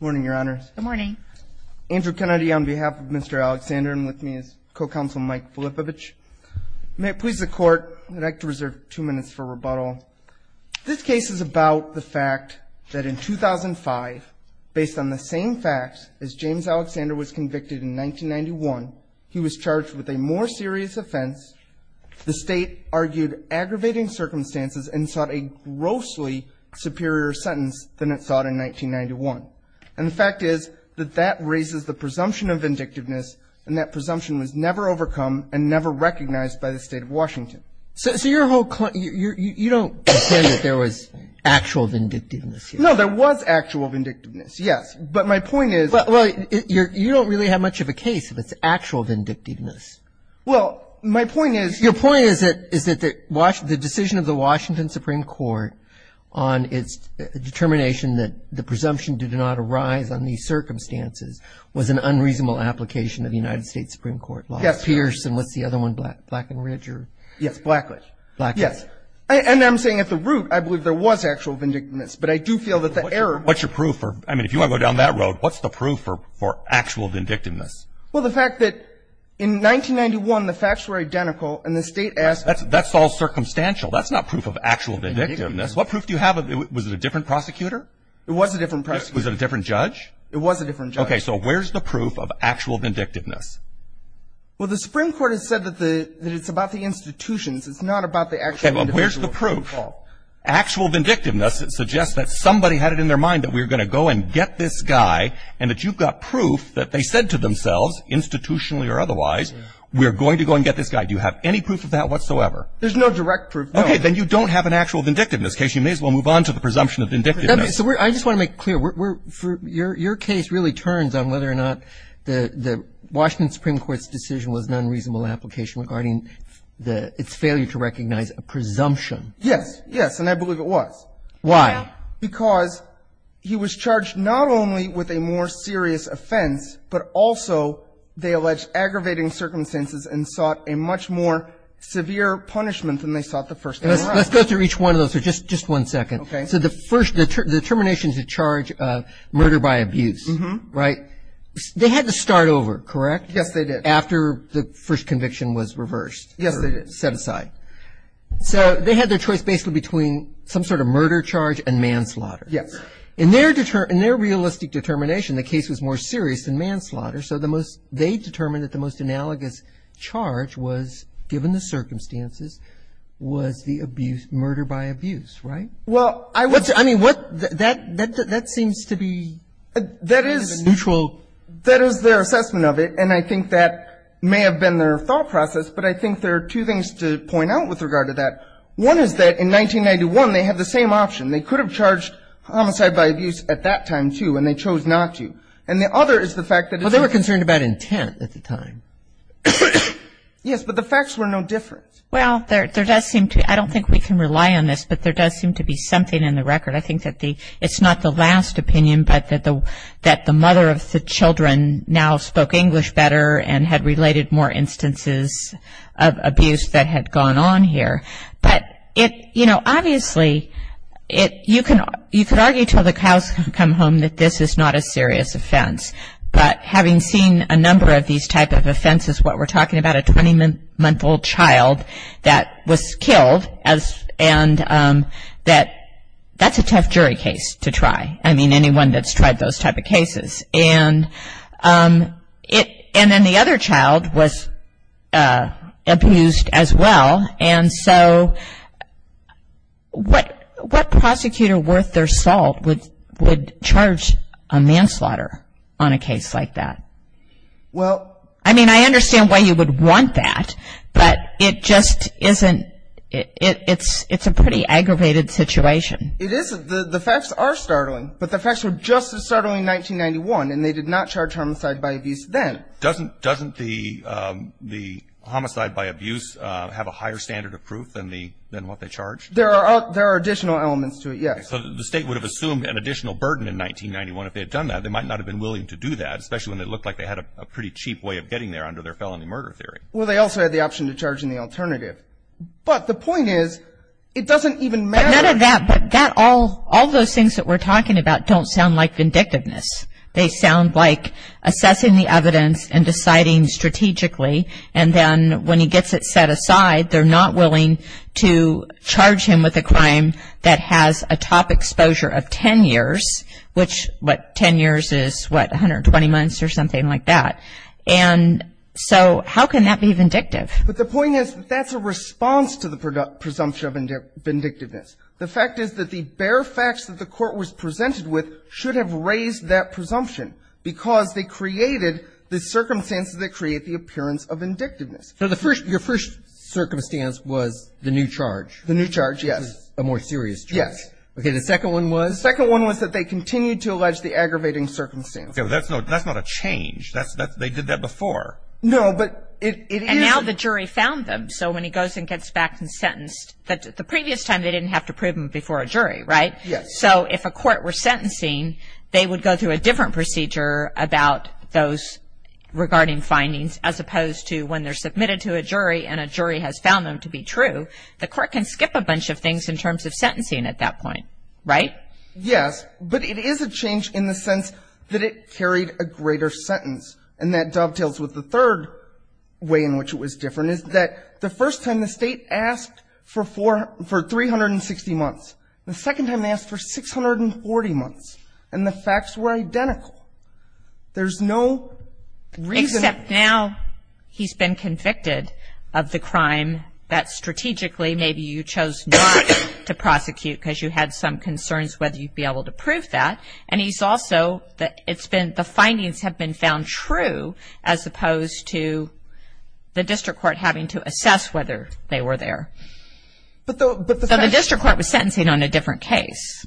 Morning, Your Honors. Good morning. Andrew Kennedy on behalf of Mr. Alexander and with me is Co-Counsel Mike Filippovich. May it please the Court that I would like to reserve two minutes for rebuttal. This case is about the fact that in 2005, based on the same facts as James Alexander was convicted in 1991, he was charged with a more serious offense. The State argued aggravating circumstances and sought a grossly superior sentence than it sought in 1991. And the fact is that that raises the presumption of vindictiveness and that presumption was never overcome and never recognized by the State of Washington. So your whole claim, you don't pretend that there was actual vindictiveness here. No, there was actual vindictiveness, yes. But my point is – Well, you don't really have much of a case if it's actual vindictiveness. Well, my point is – Your point is that the decision of the Washington Supreme Court on its determination that the presumption did not arise on these circumstances was an unreasonable application of the United States Supreme Court law. Yes. Pierce and what's the other one, Black and Ridge or – Yes, Blackridge. Blackridge. Yes. And I'm saying at the root I believe there was actual vindictiveness, but I do feel that the error – What's your proof for – I mean, if you want to go down that road, what's the proof for actual vindictiveness? Well, the fact that in 1991 the facts were identical and the State asked – That's all circumstantial. That's not proof of actual vindictiveness. What proof do you have of – was it a different prosecutor? It was a different prosecutor. Was it a different judge? It was a different judge. Okay, so where's the proof of actual vindictiveness? Well, the Supreme Court has said that it's about the institutions. It's not about the actual individual. Okay, well, where's the proof? Actual vindictiveness suggests that somebody had it in their mind that we're going to go and get this guy and that you've got proof that they said to themselves institutionally or otherwise we're going to go and get this guy. Do you have any proof of that whatsoever? There's no direct proof, no. Okay, then you don't have an actual vindictiveness case. You may as well move on to the presumption of vindictiveness. I just want to make clear. Your case really turns on whether or not the Washington Supreme Court's decision was an unreasonable application regarding its failure to recognize a presumption. Yes, yes, and I believe it was. Why? Because he was charged not only with a more serious offense, but also they alleged aggravating circumstances and sought a much more severe punishment than they sought the first time around. Let's go through each one of those for just one second. Okay. So the first determination to charge murder by abuse, right, they had to start over, correct? Yes, they did. After the first conviction was reversed. Yes, they did. Set aside. So they had their choice basically between some sort of murder charge and manslaughter. Yes. In their realistic determination, the case was more serious than manslaughter, so they determined that the most analogous charge was, given the circumstances, was the abuse, murder by abuse, right? Well, I would say, I mean, what, that seems to be neutral. That is their assessment of it, and I think that may have been their thought process, but I think there are two things to point out with regard to that. One is that in 1991, they had the same option. They could have charged homicide by abuse at that time, too, and they chose not to. And the other is the fact that it's not. Well, they were concerned about intent at the time. Yes, but the facts were no different. Well, there does seem to be, I don't think we can rely on this, but there does seem to be something in the record. I think that the, it's not the last opinion, but that the mother of the children now spoke English better and had related more instances of abuse that had gone on here. But it, you know, obviously, it, you can argue until the cows come home that this is not a serious offense. But having seen a number of these type of offenses, what we're talking about, a 20-month-old child that was killed, and that's a tough jury case to try. I mean, anyone that's tried those type of cases. And then the other child was abused as well. And so what prosecutor worth their salt would charge a manslaughter on a case like that? Well. I mean, I understand why you would want that, but it just isn't, it's a pretty aggravated situation. It isn't. The facts are startling. But the facts were just as startling in 1991, and they did not charge homicide by abuse then. Doesn't the homicide by abuse have a higher standard of proof than what they charged? There are additional elements to it, yes. So the state would have assumed an additional burden in 1991 if they had done that. They might not have been willing to do that, especially when they looked like they had a pretty cheap way of getting there under their felony murder theory. Well, they also had the option to charge in the alternative. But the point is, it doesn't even matter. None of that, but all those things that we're talking about don't sound like vindictiveness. They sound like assessing the evidence and deciding strategically, and then when he gets it set aside, they're not willing to charge him with a crime that has a top exposure of 10 years, which, what, 10 years is, what, 120 months or something like that. And so how can that be vindictive? But the point is, that's a response to the presumption of vindictiveness. The fact is that the bare facts that the Court was presented with should have raised that presumption because they created the circumstances that create the appearance of vindictiveness. So the first, your first circumstance was the new charge. The new charge, yes. A more serious charge. Yes. Okay. The second one was? The second one was that they continued to allege the aggravating circumstances. Okay. But that's not a change. They did that before. No, but it is. Now the jury found them. So when he goes and gets back and sentenced, the previous time they didn't have to prove him before a jury, right? Yes. So if a court were sentencing, they would go through a different procedure about those regarding findings, as opposed to when they're submitted to a jury and a jury has found them to be true. The court can skip a bunch of things in terms of sentencing at that point, right? Yes. But it is a change in the sense that it carried a greater sentence, and that dovetails with the third way in which it was different, is that the first time the State asked for 360 months. The second time they asked for 640 months. And the facts were identical. There's no reason. Except now he's been convicted of the crime that strategically maybe you chose not to prosecute because you had some concerns whether you'd be able to prove that. And he's also, the findings have been found true, as opposed to the district court having to assess whether they were there. So the district court was sentencing on a different case.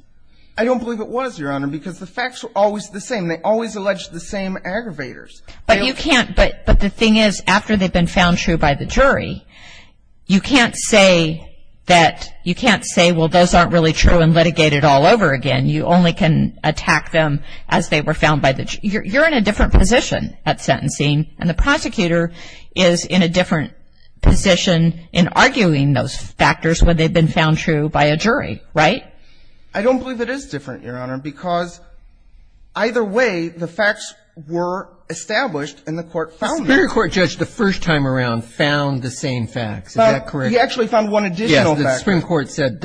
I don't believe it was, Your Honor, because the facts were always the same. They always alleged the same aggravators. But the thing is, after they've been found true by the jury, you can't say, well, those aren't really true and litigate it all over again. You only can attack them as they were found by the jury. You're in a different position at sentencing, and the prosecutor is in a different position in arguing those factors when they've been found true by a jury, right? I don't believe it is different, Your Honor, because either way the facts were established and the court found them. The Supreme Court judge the first time around found the same facts. Is that correct? He actually found one additional fact. Yes, the Supreme Court said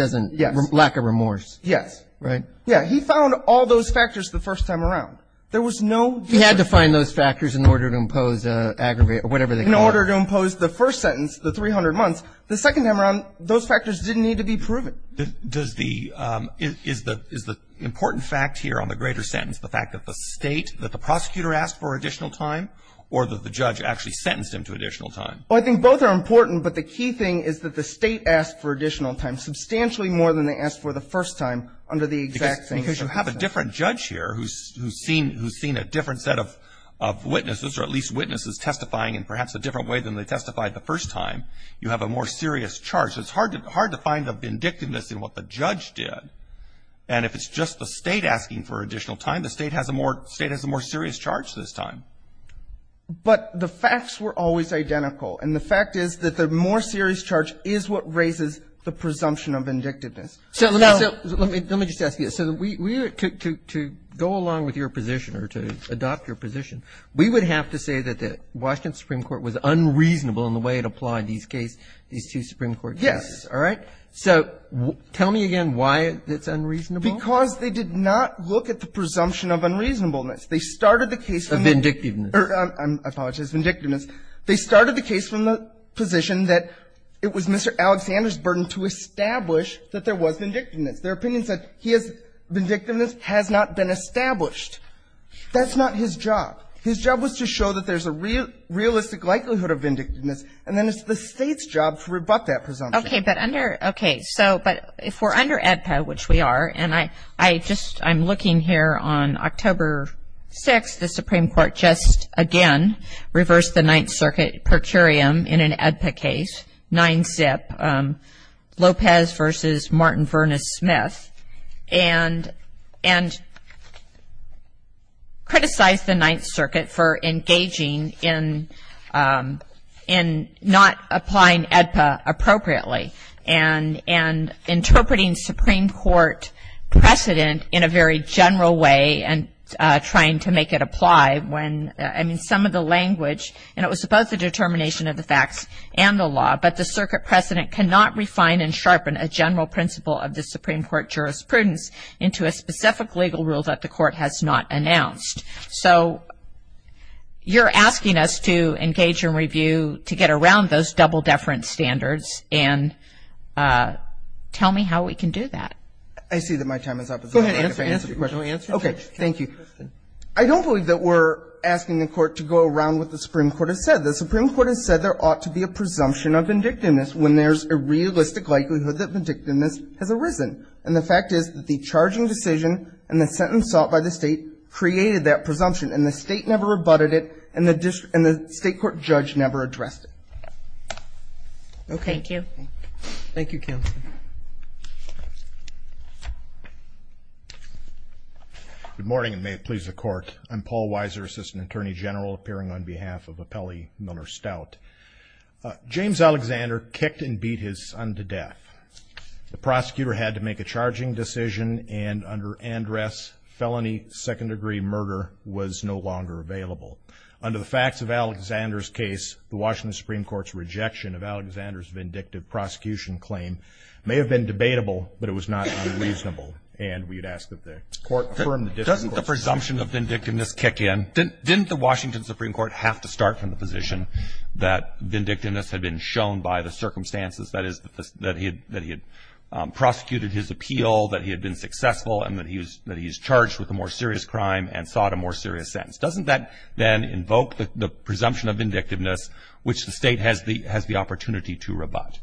lack of remorse. Yes. Right? Yeah, he found all those factors the first time around. There was no difference. He had to find those factors in order to impose aggravate or whatever they called it. In order to impose the first sentence, the 300 months, the second time around those factors didn't need to be proven. Does the – is the important fact here on the greater sentence the fact that the State, that the prosecutor asked for additional time, or that the judge actually sentenced him to additional time? Well, I think both are important, but the key thing is that the State asked for additional time, substantially more than they asked for the first time under the exact same circumstances. Because you have a different judge here who's seen a different set of witnesses or at least witnesses testifying in perhaps a different way than they testified the first time. You have a more serious charge. So it's hard to find a vindictiveness in what the judge did. And if it's just the State asking for additional time, the State has a more serious charge this time. But the facts were always identical. And the fact is that the more serious charge is what raises the presumption of vindictiveness. So let me just ask you this. To go along with your position or to adopt your position, we would have to say that the Washington Supreme Court was unreasonable in the way it applied these cases, these two Supreme Court cases. Yes. All right? So tell me again why it's unreasonable. Because they did not look at the presumption of unreasonableness. They started the case from the – Of vindictiveness. I apologize. Vindictiveness. They started the case from the position that it was Mr. Alexander's burden to establish that there was vindictiveness. Their opinion said he has – vindictiveness has not been established. That's not his job. His job was to show that there's a realistic likelihood of vindictiveness, and then it's the State's job to rebut that presumption. Okay. But under – okay. So but if we're under AEDPA, which we are, and I just – I'm looking here on October 6th, the Supreme Court just, again, reversed the Ninth Circuit per curiam in an AEDPA case, 9-zip, Lopez v. Martin, Verness, Smith, and criticized the Ninth Circuit for engaging in not applying AEDPA appropriately and interpreting Supreme Court precedent in a very general way and trying to make it apply when – I mean, some of the language, and it was both the determination of the facts and the law, but the Circuit precedent cannot refine and sharpen a general principle of the Supreme Court jurisprudence into a specific legal rule that the Court has not announced. So you're asking us to engage and review to get around those double-deference standards, and tell me how we can do that. I see that my time is up. Go ahead. Answer the question. Okay. Thank you. I don't believe that we're asking the Court to go around what the Supreme Court has said. The Supreme Court has said there ought to be a presumption of vindictiveness when there's a realistic likelihood that vindictiveness has arisen. And the fact is that the charging decision and the sentence sought by the State created that presumption, and the State never rebutted it, and the State court judge never addressed it. Okay. Thank you. Thank you, counsel. Good morning, and may it please the Court. I'm Paul Weiser, Assistant Attorney General, appearing on behalf of Appellee Miller Stout. James Alexander kicked and beat his son to death. The prosecutor had to make a charging decision, and under Andress, felony second-degree murder was no longer available. Under the facts of Alexander's case, the Washington Supreme Court's rejection of Alexander's vindictive prosecution claim may have been debatable, but it was not unreasonable, and we'd ask that the Court affirm the decision. Doesn't the presumption of vindictiveness kick in? Didn't the Washington Supreme Court have to start from the position that vindictiveness had been shown by the circumstances, that is, that he had prosecuted his appeal, that he had been successful, and that he was charged with a more serious crime and sought a more serious sentence? Doesn't that then invoke the presumption of vindictiveness, which the State has the opportunity to rebut?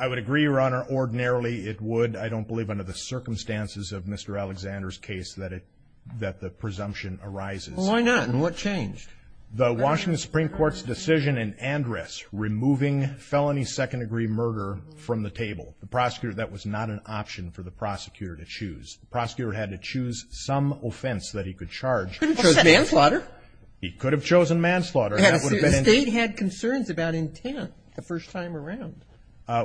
I would agree, Your Honor. Ordinarily, it would. I don't believe under the circumstances of Mr. Alexander's case that it – that the presumption arises. Well, why not? And what changed? The Washington Supreme Court's decision in Andress removing felony second-degree murder from the table. The prosecutor – that was not an option for the prosecutor to choose. The prosecutor had to choose some offense that he could charge. He couldn't choose manslaughter. He could have chosen manslaughter. The State had concerns about intent the first time around.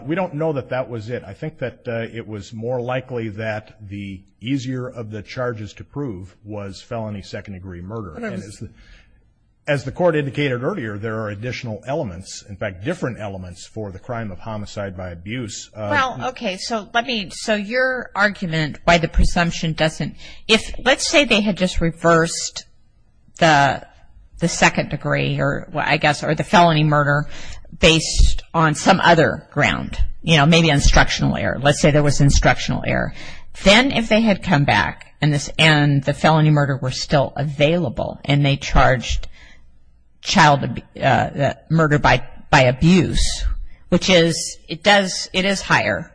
We don't know that that was it. I think that it was more likely that the easier of the charges to prove was felony second-degree murder. As the Court indicated earlier, there are additional elements, in fact, different elements for the crime of homicide by abuse. Well, okay. So let me – so your argument why the presumption doesn't – if – let's say they had just reversed the second degree or, I guess, or the felony murder based on some other ground, you know, maybe instructional error. Let's say there was instructional error. Then if they had come back and the felony murder were still available and they charged child murder by abuse, which is – it does – it is higher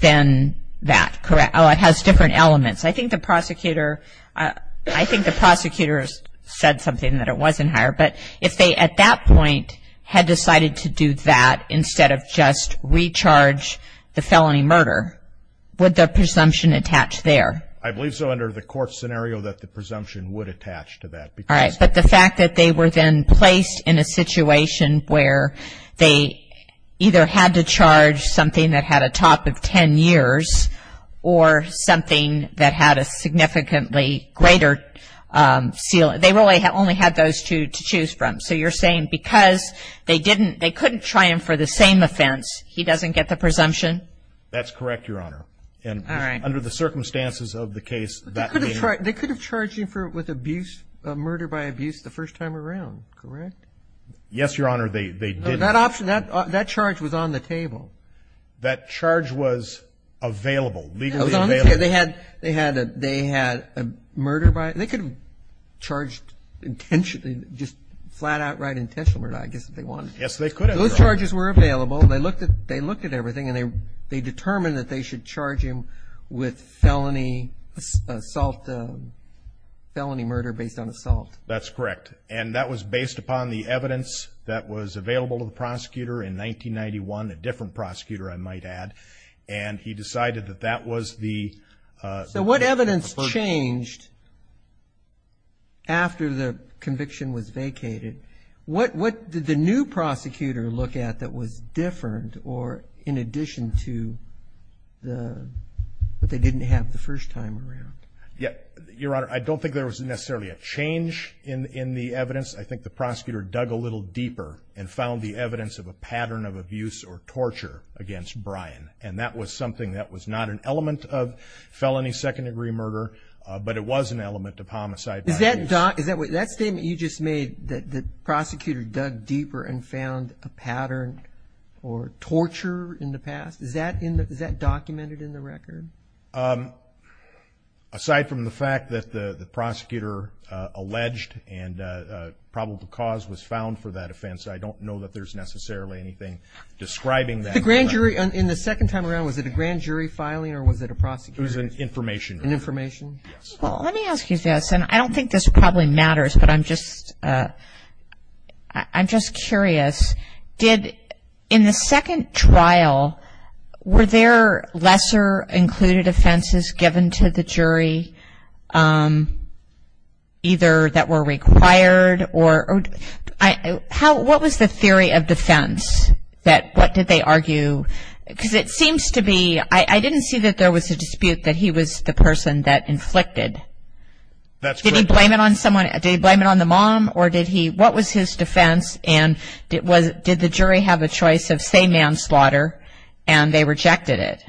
than that, correct? Oh, it has different elements. I think the prosecutor – I think the prosecutor said something that it wasn't higher. But if they at that point had decided to do that instead of just recharge the felony murder, would the presumption attach there? I believe so under the court scenario that the presumption would attach to that. All right. But the fact that they were then placed in a situation where they either had to charge something that had a top of 10 years or something that had a significantly greater ceiling – they really only had those two to choose from. So you're saying because they didn't – they couldn't try him for the same offense, he doesn't get the presumption? That's correct, Your Honor. All right. And under the circumstances of the case, that may – They could have charged him for – with abuse – murder by abuse the first time around, correct? That option – that charge was on the table. That charge was available, legally available. It was on the table. They had a murder by – they could have charged intentionally, just flat outright intentional murder, I guess, if they wanted to. Yes, they could have, Your Honor. Those charges were available. They looked at everything and they determined that they should charge him with felony assault – felony murder based on assault. That's correct. And that was based upon the evidence that was available to the prosecutor in 1991, a different prosecutor, I might add, and he decided that that was the – So what evidence changed after the conviction was vacated? What did the new prosecutor look at that was different or in addition to the – that they didn't have the first time around? Your Honor, I don't think there was necessarily a change in the evidence. I think the prosecutor dug a little deeper and found the evidence of a pattern of abuse or torture against Brian, and that was something that was not an element of felony second-degree murder, but it was an element of homicide by abuse. Is that – that statement you just made, that the prosecutor dug deeper and found a pattern or torture in the past, is that documented in the record? Aside from the fact that the prosecutor alleged and probable cause was found for that offense, I don't know that there's necessarily anything describing that. The grand jury – in the second time around, was it a grand jury filing or was it a prosecutor? It was an information. An information? Yes. Well, let me ask you this, and I don't think this probably matters, but I'm just – I'm just curious. Did – in the second trial, were there lesser included offenses given to the jury, either that were required or – what was the theory of defense that – what did they argue? Because it seems to be – I didn't see that there was a dispute That's correct. Did he blame it on someone – did he blame it on the mom, or did he – what was his defense, and did the jury have a choice of, say, manslaughter, and they rejected it?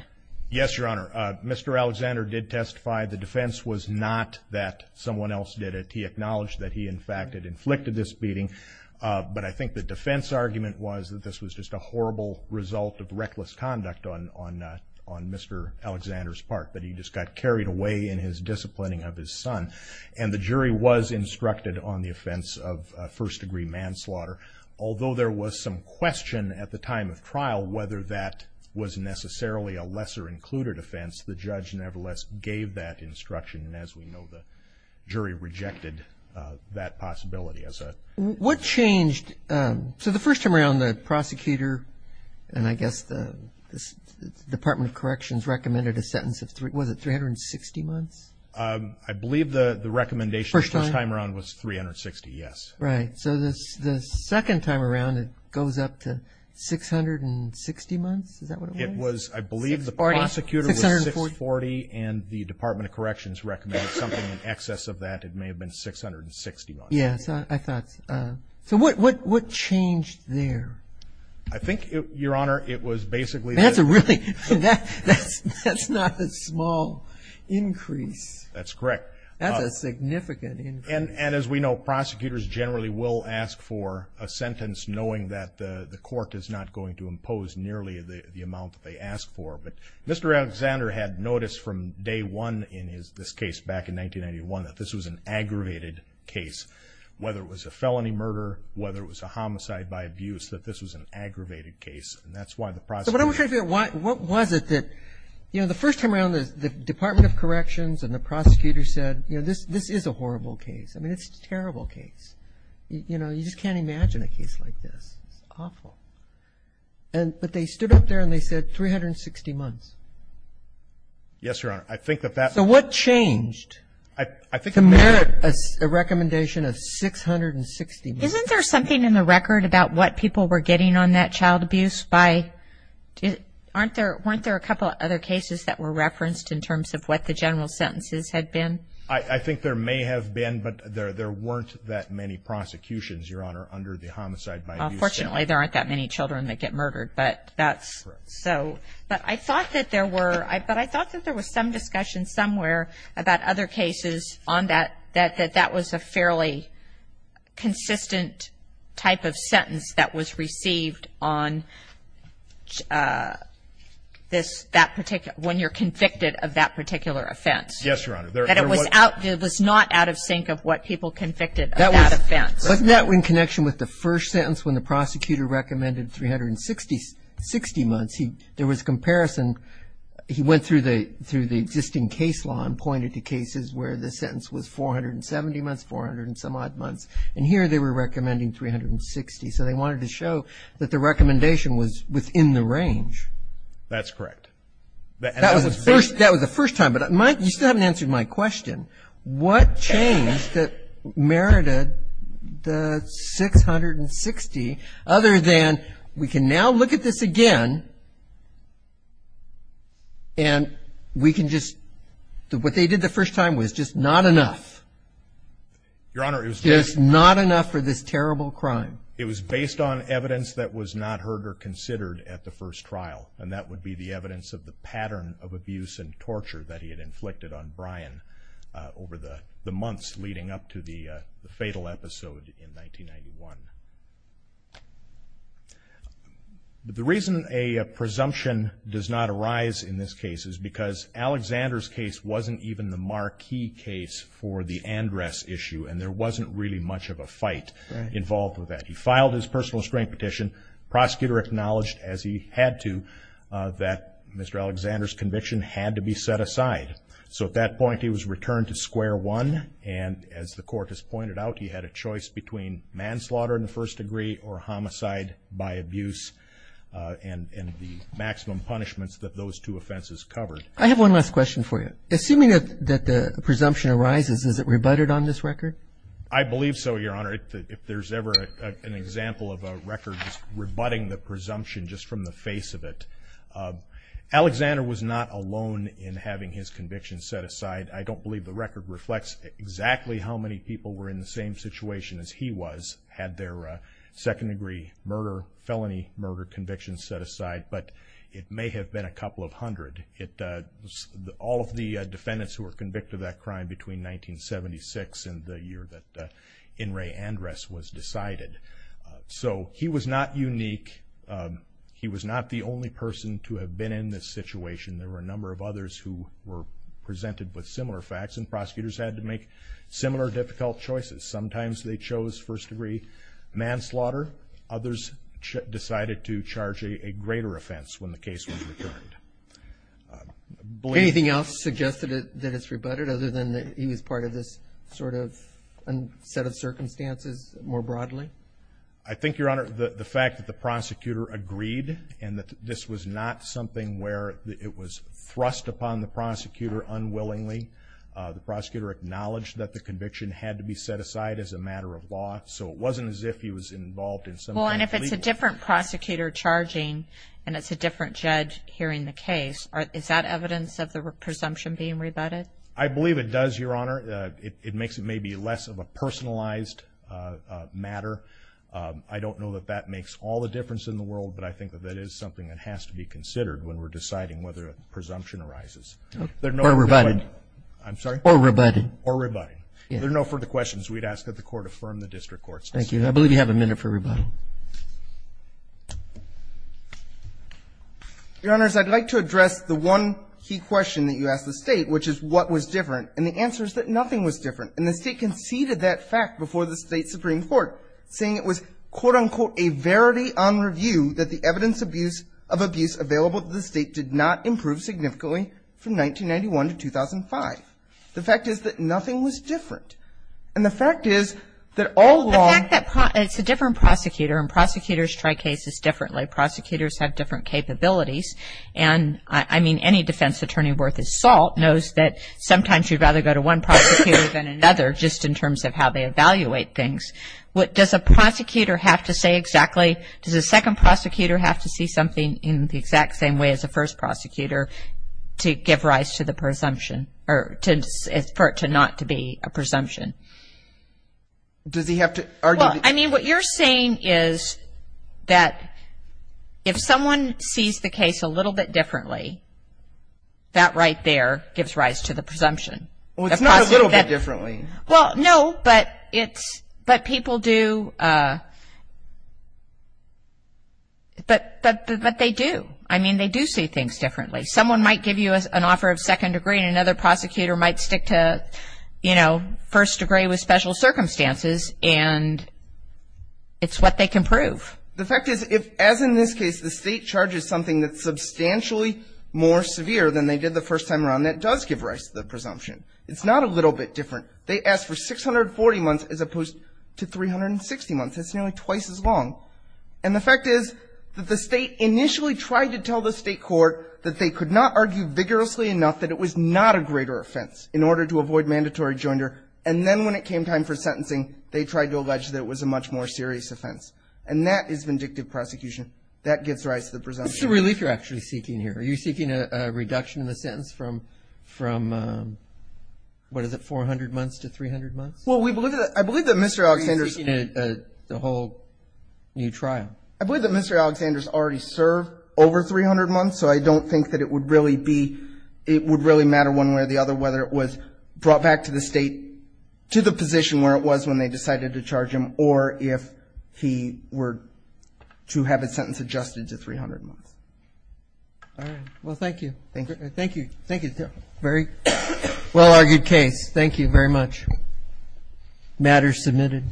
Yes, Your Honor. Mr. Alexander did testify the defense was not that someone else did it. He acknowledged that he, in fact, had inflicted this beating, but I think the defense argument was that this was just a horrible result of reckless conduct on Mr. Alexander's part, that he just got carried away in his disciplining of his son. And the jury was instructed on the offense of first-degree manslaughter. Although there was some question at the time of trial whether that was necessarily a lesser included offense, the judge nevertheless gave that instruction, and as we know, the jury rejected that possibility as a – What changed – so the first time around, the prosecutor, and I guess the Department of Corrections recommended a sentence of – was it 360 months? I believe the recommendation the first time around was 360, yes. Right. So the second time around, it goes up to 660 months? Is that what it was? It was – I believe the prosecutor was 640, and the Department of Corrections recommended something in excess of that. It may have been 660 months. Yes, I thought – so what changed there? I think, Your Honor, it was basically – That's a really – that's not a small increase. That's correct. That's a significant increase. And as we know, prosecutors generally will ask for a sentence knowing that the court is not going to impose nearly the amount that they ask for. But Mr. Alexander had noticed from day one in this case back in 1991 that this was an aggravated case, whether it was a felony murder, whether it was a homicide by abuse, that this was an aggravated case. And that's why the prosecutor – So what I'm trying to figure out, what was it that – you know, the first time around, the Department of Corrections and the prosecutor said, you know, this is a horrible case. I mean, it's a terrible case. You know, you just can't imagine a case like this. It's awful. But they stood up there and they said 360 months. Yes, Your Honor. I think that that – So what changed to merit a recommendation of 660 months? Isn't there something in the record about what people were getting on that child abuse by – weren't there a couple of other cases that were referenced in terms of what the general sentences had been? I think there may have been, but there weren't that many prosecutions, Your Honor, under the homicide by abuse. Fortunately, there aren't that many children that get murdered. But that's – Correct. But I thought that there were – but I thought that there was some discussion somewhere about other cases on that that that was a fairly consistent type of sentence that was received on this – that particular – when you're convicted of that particular offense. Yes, Your Honor. That it was out – it was not out of sync of what people convicted of that offense. Wasn't that in connection with the first sentence when the prosecutor recommended 360 months? There was a comparison. He went through the existing case law and pointed to cases where the sentence was 470 months, 400 and some odd months. And here they were recommending 360. So they wanted to show that the recommendation was within the range. That's correct. That was the first time. But you still haven't answered my question. What changed that merited the 660 other than we can now look at this again and we can just – what they did the first time was just not enough. Your Honor, it was just – Just not enough for this terrible crime. It was based on evidence that was not heard or considered at the first trial. And that would be the evidence of the pattern of abuse and torture that he had inflicted on Brian over the months leading up to the fatal episode in 1991. The reason a presumption does not arise in this case is because Alexander's case wasn't even the marquee case for the Andress issue, and there wasn't really much of a fight involved with that. He filed his personal restraint petition. Prosecutor acknowledged, as he had to, that Mr. Alexander's conviction had to be set aside. So at that point he was returned to square one. And as the court has pointed out, he had a choice between manslaughter in the first degree or homicide by abuse and the maximum punishments that those two offenses covered. I have one last question for you. Assuming that the presumption arises, is it rebutted on this record? I believe so, Your Honor. If there's ever an example of a record rebutting the presumption just from the face of it. Alexander was not alone in having his conviction set aside. I don't believe the record reflects exactly how many people were in the same situation as he was, had their second-degree murder, felony murder conviction set aside, but it may have been a couple of hundred. All of the defendants who were convicted of that crime between 1976 and the year that In re Andres was decided. So he was not unique. He was not the only person to have been in this situation. There were a number of others who were presented with similar facts, and prosecutors had to make similar difficult choices. Sometimes they chose first-degree manslaughter. Others decided to charge a greater offense when the case was returned. Anything else suggest that it's rebutted, other than that he was part of this sort of set of circumstances more broadly? I think, Your Honor, the fact that the prosecutor agreed and that this was not something where it was thrust upon the prosecutor unwillingly. The prosecutor acknowledged that the conviction had to be set aside as a matter of law, so it wasn't as if he was involved in some kind of legal. Well, and if it's a different prosecutor charging and it's a different judge hearing the case, is that evidence of the presumption being rebutted? I believe it does, Your Honor. It makes it maybe less of a personalized matter. I don't know that that makes all the difference in the world, but I think that that is something that has to be considered when we're deciding whether a presumption arises. Or rebutted. I'm sorry? Or rebutted. Or rebutted. There are no further questions. We'd ask that the Court affirm the district court's decision. Thank you. I believe you have a minute for rebuttal. Your Honors, I'd like to address the one key question that you asked the State, which is what was different. And the answer is that nothing was different. And the State conceded that fact before the State Supreme Court, saying it was, quote, unquote, a verity on review that the evidence of abuse available to the State did not improve significantly from 1991 to 2005. The fact is that nothing was different. And the fact is that all along. The fact that it's a different prosecutor and prosecutors try cases differently. Prosecutors have different capabilities. And, I mean, any defense attorney worth his salt knows that sometimes you'd rather go to one prosecutor than another just in terms of how they evaluate things. What does a prosecutor have to say exactly? Does a second prosecutor have to see something in the exact same way as a first prosecutor to give rise to the presumption or for it not to be a presumption? Does he have to argue? Well, I mean, what you're saying is that if someone sees the case a little bit differently, that right there gives rise to the presumption. Well, it's not a little bit differently. Well, no, but people do. But they do. I mean, they do see things differently. Someone might give you an offer of second degree, and another prosecutor might stick to, you know, first degree with special circumstances. And it's what they can prove. The fact is if, as in this case, the State charges something that's substantially more severe than they did the first time around, that does give rise to the presumption. It's not a little bit different. They asked for 640 months as opposed to 360 months. That's nearly twice as long. And the fact is that the State initially tried to tell the State court that they could not argue vigorously enough that it was not a greater offense in order to avoid mandatory joinder. And then when it came time for sentencing, they tried to allege that it was a much more serious offense. And that is vindictive prosecution. That gives rise to the presumption. What's the relief you're actually seeking here? Are you seeking a reduction in the sentence from, what is it, 400 months to 300 months? Well, I believe that Mr. Alexander's ---- The whole new trial. I believe that Mr. Alexander's already served over 300 months, so I don't think that it would really be ---- it would really matter one way or the other whether it was brought back to the State to the position where it was when they decided to charge him or if he were to have his sentence adjusted to 300 months. All right. Well, thank you. Thank you. Thank you. Thank you. Very well-argued case. Thank you very much. Matter submitted.